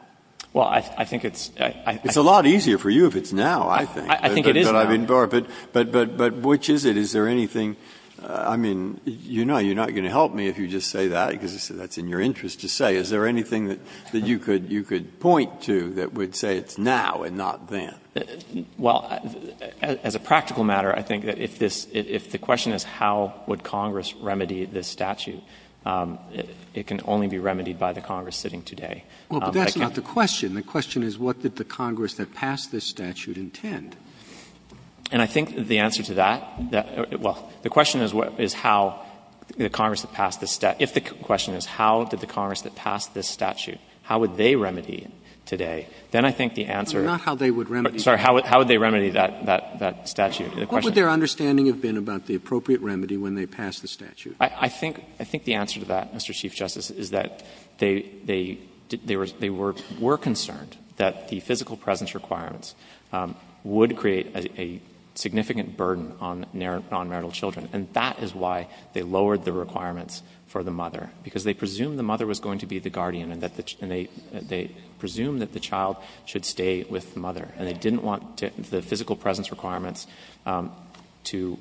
Well, I think it's — It's a lot easier for you if it's now, I think. I think it is now. But which is it? Is there anything — I mean, you know you're not going to help me if you just say that, because that's in your interest to say. Is there anything that you could point to that would say it's now and not then? Well, as a practical matter, I think that if this — if the question is how would Congress remedy this statute, it can only be remedied by the Congress sitting today. Well, but that's not the question. The question is what did the Congress that passed this statute intend? And I think the answer to that — well, the question is how the Congress that passed this — if the question is how did the Congress that passed this statute, how would they remedy it today? Then I think the answer — Not how they would remedy it. Sorry. How would they remedy that statute? What would their understanding have been about the appropriate remedy when they passed the statute? I think the answer to that, Mr. Chief Justice, is that they were concerned that the physical presence requirements would create a significant burden on nonmarital children. And that is why they lowered the requirements for the mother, because they presumed the mother was going to be the guardian and they presumed that the child should stay with the mother. And they didn't want the physical presence requirements to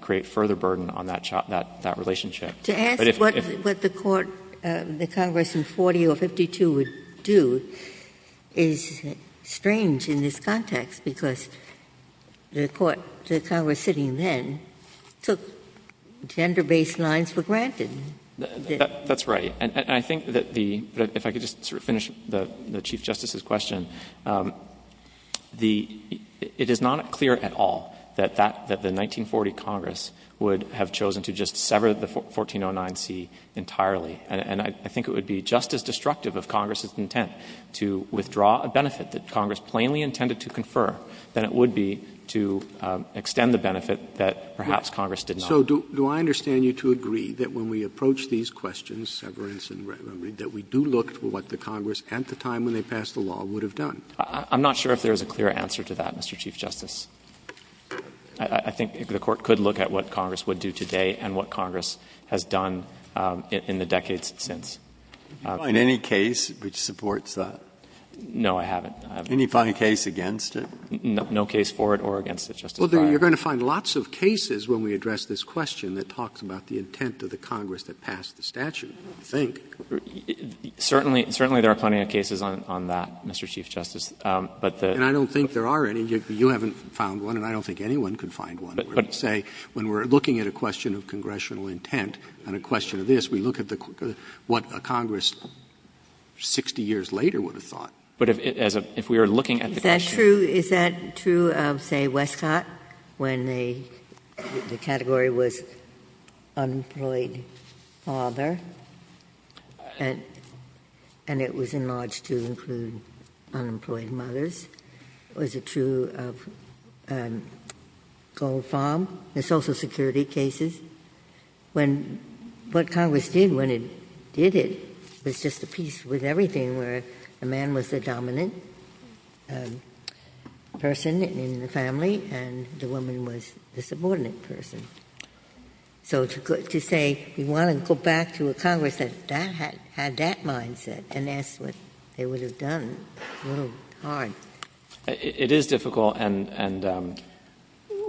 create further burden on that relationship. To ask what the Court, the Congress in 40 or 52 would do is strange in this context, because the Court, the Congress sitting then, took gender-based lines for granted. That's right. And I think that the — if I could just sort of finish the Chief Justice's question. The — it is not clear at all that that — that the 1940 Congress would have chosen to just sever the 1409c entirely, and I think it would be just as destructive of Congress's intent to withdraw a benefit that Congress plainly intended to confer than it would be to extend the benefit that perhaps Congress did not. So do I understand you to agree that when we approach these questions, severance and remedy, that we do look to what the Congress, at the time when they passed the law, would have done? I'm not sure if there is a clear answer to that, Mr. Chief Justice. I think the Court could look at what Congress would do today and what Congress has done in the decades since. Do you find any case which supports that? No, I haven't. Any case against it? No case for it or against it, Justice Breyer. Well, you're going to find lots of cases when we address this question that talks about the intent of the Congress that passed the statute, I think. Certainly — certainly there are plenty of cases on that, Mr. Chief Justice. But the — And I don't think there are any. You haven't found one, and I don't think anyone could find one. But say, when we're looking at a question of congressional intent on a question of this, we look at the — what Congress 60 years later would have thought. But as a — if we were looking at the question — Is that true — is that true of, say, Westcott, when the category was unemployed father, and it was enlarged to include unemployed mothers? Was it true of Goldfarb, the Social Security cases? When — what Congress did when it did it was just a piece with everything where the man was the dominant person in the family, and the woman was the subordinate person. So to say you want to go back to a Congress that had that mindset and ask what they would have done is a little hard. It is difficult, and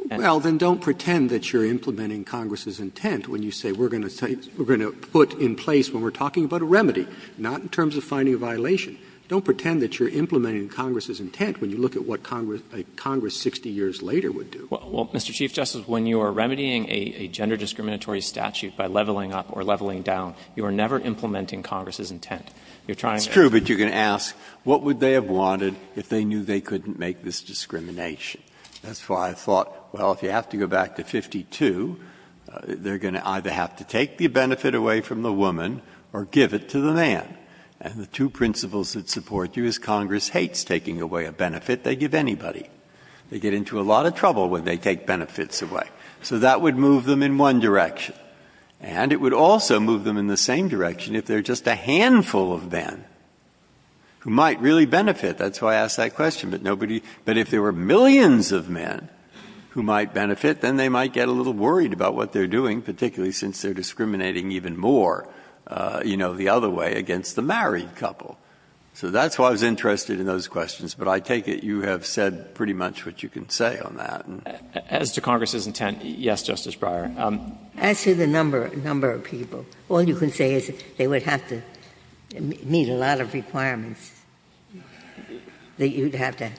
— Well, then don't pretend that you're implementing Congress's intent when you say we're going to say — we're going to put in place when we're talking about a remedy, not in terms of finding a violation. Don't pretend that you're implementing Congress's intent when you look at what Congress 60 years later would do. Well, Mr. Chief Justice, when you are remedying a gender discriminatory statute by leveling up or leveling down, you are never implementing Congress's intent. You're trying to — It's true, but you're going to ask what would they have wanted if they knew they couldn't make this discrimination. That's why I thought, well, if you have to go back to 52, they're going to either have to take the benefit away from the woman or give it to the man. And the two principles that support you is Congress hates taking away a benefit they give anybody. They get into a lot of trouble when they take benefits away. So that would move them in one direction. And it would also move them in the same direction if there are just a handful of men who might really benefit. That's why I asked that question. But nobody — but if there were millions of men who might benefit, then they might get a little worried about what they're doing, particularly since they're discriminating even more, you know, the other way, against the married couple. So that's why I was interested in those questions. But I take it you have said pretty much what you can say on that. As to Congress's intent, yes, Justice Breyer. As to the number of people, all you can say is they would have to meet a lot of requirements that you'd have to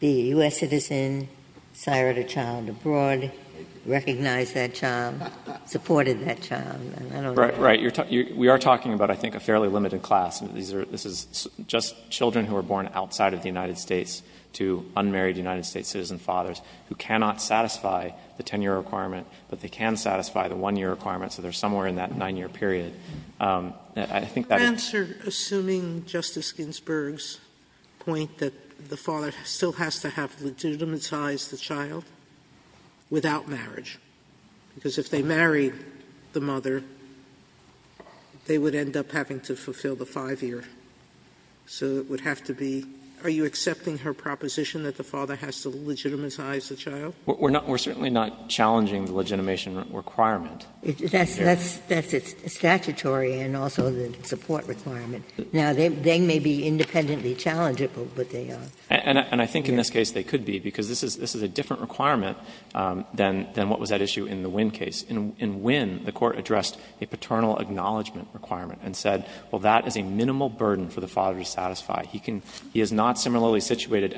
be a U.S. citizen, sired a child abroad, recognize that child, supported that child. I don't know. We are talking about, I think, a fairly limited class. This is just children who are born outside of the United States to unmarried United States citizen fathers who cannot satisfy the 10-year requirement, but they can satisfy the 1-year requirement. So they're somewhere in that 9-year period. I think that is the case. Sotomayor, assuming Justice Ginsburg's point that the father still has to have legitimatized the child without marriage, because if they marry the mother, they would end up having to fulfill the 5-year. So it would have to be — are you accepting her proposition that the father has to legitimatize the child? We're not — we're certainly not challenging the legitimation requirement. Ginsburg. That's statutory and also the support requirement. Now, they may be independently challengeable, but they are. And I think in this case they could be, because this is a different requirement than what was at issue in the Wynn case. In Wynn, the Court addressed a paternal acknowledgment requirement and said, well, that is a minimal burden for the father to satisfy. He can — he is not similarly situated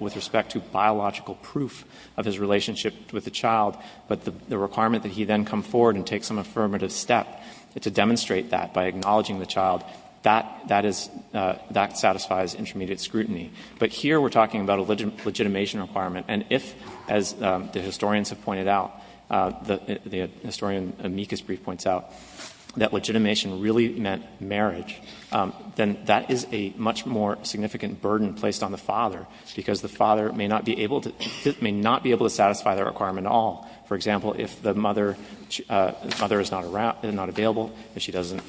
with respect to biological proof of his relationship with the child, but the requirement that he then come forward and take some affirmative step to demonstrate that by acknowledging the child, that is — that satisfies intermediate scrutiny. But here we're talking about a legitimation requirement. And if, as the historians have pointed out, the historian amicus brief points out, that legitimation really meant marriage, then that is a much more significant burden placed on the father, because the father may not be able to — may not be able to satisfy the requirement at all. For example, if the mother — the mother is not around — not available, if she doesn't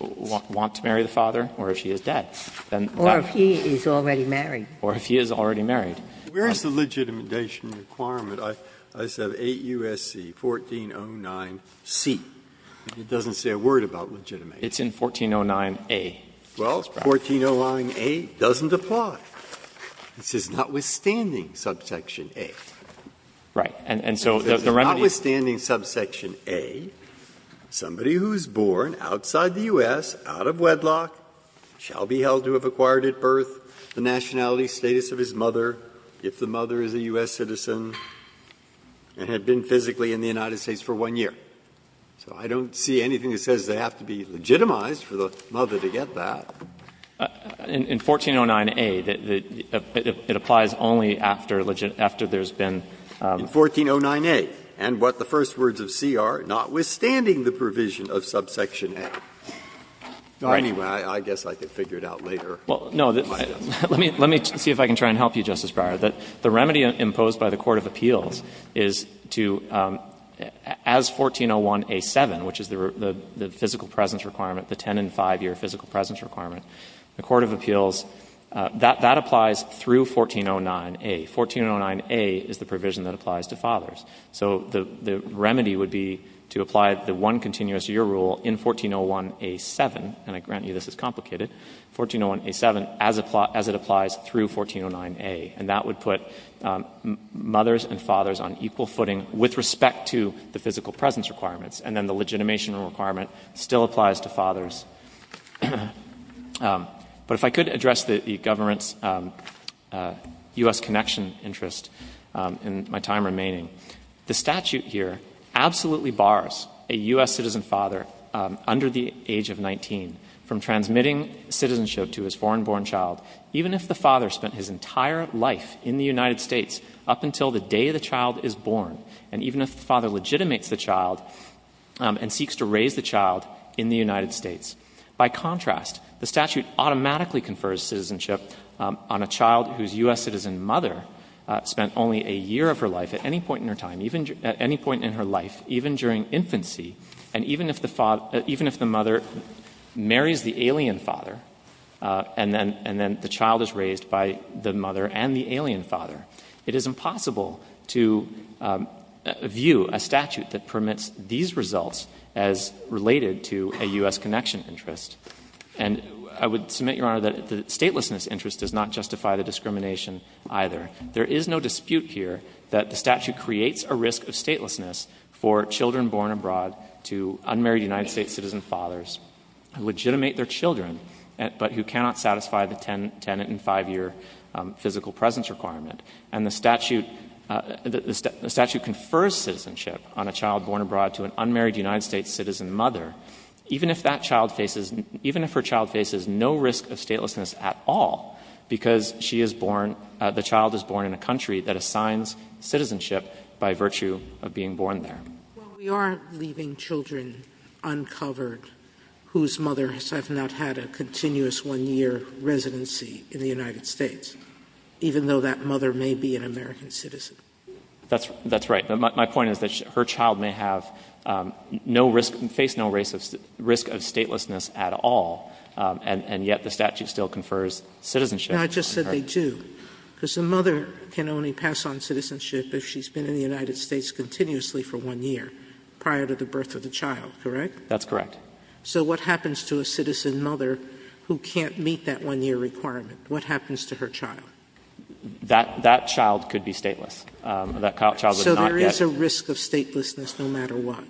want to marry the father, or if she is dead, then that — Or if he is already married. Or if he is already married. Where is the legitimation requirement? I said 8 U.S.C. 1409C. It doesn't say a word about legitimation. It's in 1409A. Well, 1409A doesn't apply. This is notwithstanding subsection A. Right. And so the remedy is — This is notwithstanding subsection A, somebody who is born outside the U.S., out of wedlock, shall be held to have acquired at birth the nationality status of his mother, if the mother is a U.S. citizen, and had been physically in the United States for one year. So I don't see anything that says they have to be legitimized for the mother to get In 1409A, it applies only after there has been — In 1409A. And what the first words of C are, notwithstanding the provision of subsection A. Anyway, I guess I could figure it out later. Well, no. Let me see if I can try and help you, Justice Breyer. The remedy imposed by the court of appeals is to, as 1401A.7, which is the physical presence requirement, the ten- and five-year physical presence requirement, the court of appeals, that applies through 1409A. 1409A is the provision that applies to fathers. So the remedy would be to apply the one-continuous-year rule in 1401A.7, and I grant you this is complicated, 1401A.7 as it applies through 1409A. And that would put mothers and fathers on equal footing with respect to the physical presence requirements. And then the legitimation requirement still applies to fathers. But if I could address the government's U.S. connection interest in my time remaining. The statute here absolutely bars a U.S. citizen father under the age of 19 from transmitting citizenship to his foreign-born child, even if the father spent his entire life in the United States up until the day the child is born. And even if the father legitimates the child and seeks to raise the child in the United States. By contrast, the statute automatically confers citizenship on a child whose U.S. citizen mother spent only a year of her life at any point in her time, at any point in her life, even during infancy, and even if the mother marries the alien father and then the child is raised by the mother and the alien father. It is impossible to view a statute that permits these results as related to a U.S. connection interest. And I would submit, Your Honor, that the statelessness interest does not justify the discrimination either. There is no dispute here that the statute creates a risk of statelessness for children born abroad to unmarried United States citizen fathers who legitimate their children but who cannot satisfy the 10 and 5-year physical presence requirement. And the statute, the statute confers citizenship on a child born abroad to an unmarried United States citizen mother, even if that child faces, even if her child faces no risk of statelessness at all because she is born, the child is born in a country that assigns citizenship by virtue of being born there. Sotomayor, we are leaving children uncovered whose mothers have not had a continuous 1-year residency in the United States, even though that mother may be an American citizen. That's right. But my point is that her child may have no risk, face no risk of statelessness at all, and yet the statute still confers citizenship. No, I just said they do. Because the mother can only pass on citizenship if she's been in the United States continuously for 1 year prior to the birth of the child, correct? That's correct. So what happens to a citizen mother who can't meet that 1-year requirement? What happens to her child? That child could be stateless. That child would not get. So there is a risk of statelessness no matter what?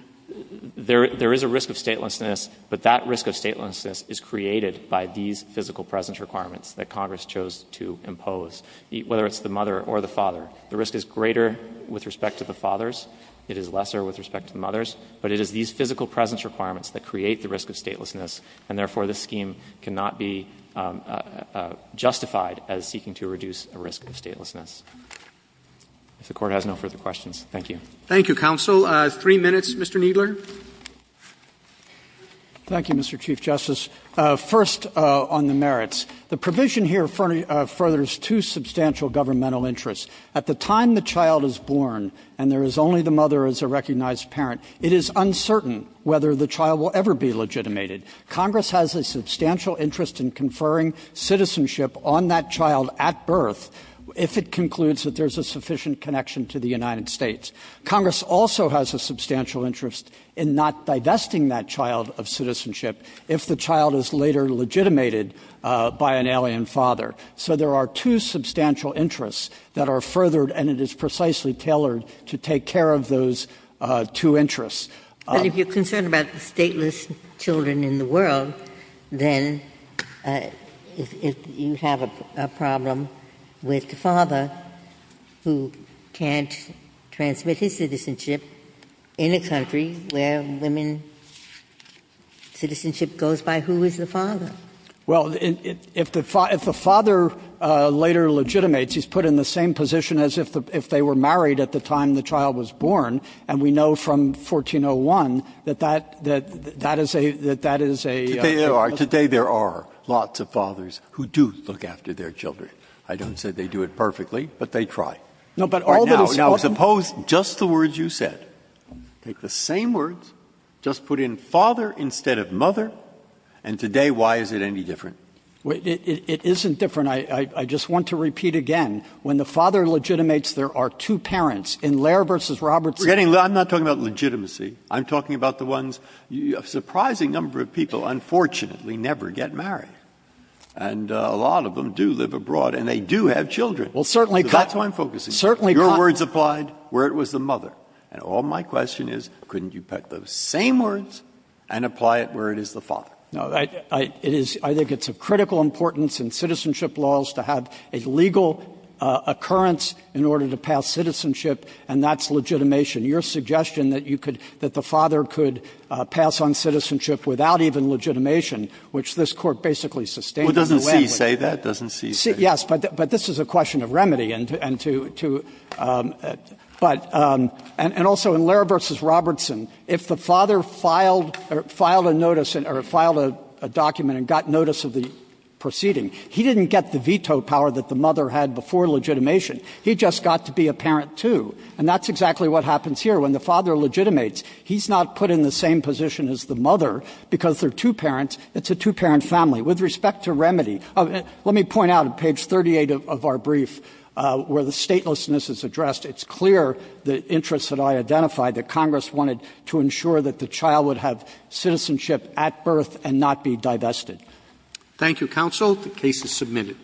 There is a risk of statelessness, but that risk of statelessness is created by these physical presence requirements that Congress chose to impose, whether it's the mother or the father. The risk is greater with respect to the fathers. It is lesser with respect to the mothers. But it is these physical presence requirements that create the risk of statelessness. And therefore, this scheme cannot be justified as seeking to reduce a risk of statelessness. If the Court has no further questions, thank you. Roberts. Thank you, counsel. Three minutes, Mr. Kneedler. Kneedler. Thank you, Mr. Chief Justice. First, on the merits. The provision here furthers two substantial governmental interests. At the time the child is born and there is only the mother as a recognized parent, it is uncertain whether the child will ever be legitimated. Congress has a substantial interest in conferring citizenship on that child at birth if it concludes that there is a sufficient connection to the United States. Congress also has a substantial interest in not divesting that child of citizenship if the child is later legitimated by an alien father. So there are two substantial interests that are furthered, and it is precisely tailored to take care of those two interests. But if you're concerned about the stateless children in the world, then if you have a problem with the father who can't transmit his citizenship in a country where women's citizenship goes by, who is the father? Kneedler. Well, if the father later legitimates, he's put in the same position as if they were married at the time the child was born, and we know from 1401 that that is a child. Today there are lots of fathers who do look after their children. I don't say they do it perfectly, but they try. Now, suppose just the words you said, take the same words, just put in father instead of mother, and today, why is it any different? It isn't different. I just want to repeat again. When the father legitimates, there are two parents. In Lehrer v. Robertson we're getting – I'm not talking about legitimacy. I'm talking about the ones – a surprising number of people, unfortunately, never get married. And a lot of them do live abroad, and they do have children. Well, certainly – That's why I'm focusing. Certainly – Your words applied where it was the mother. And all my question is, couldn't you put the same words and apply it where it is the father? No, I – it is – I think it's of critical importance in citizenship laws to have a legal occurrence in order to pass citizenship, and that's legitimation. Your suggestion that you could – that the father could pass on citizenship without even legitimation, which this Court basically sustains. Doesn't C say that? Yes, but this is a question of remedy and to – but – and also in Lehrer v. Robertson, if the father filed a notice – or filed a document and got notice of the proceeding, he didn't get the veto power that the mother had before legitimation. He just got to be a parent, too. And that's exactly what happens here. When the father legitimates, he's not put in the same position as the mother because there are two parents. It's a two-parent family. With respect to remedy, let me point out at page 38 of our brief where the statelessness is addressed, it's clear the interests that I identified, that Congress wanted to ensure that the child would have citizenship at birth and not be divested. Thank you, counsel. The case is submitted.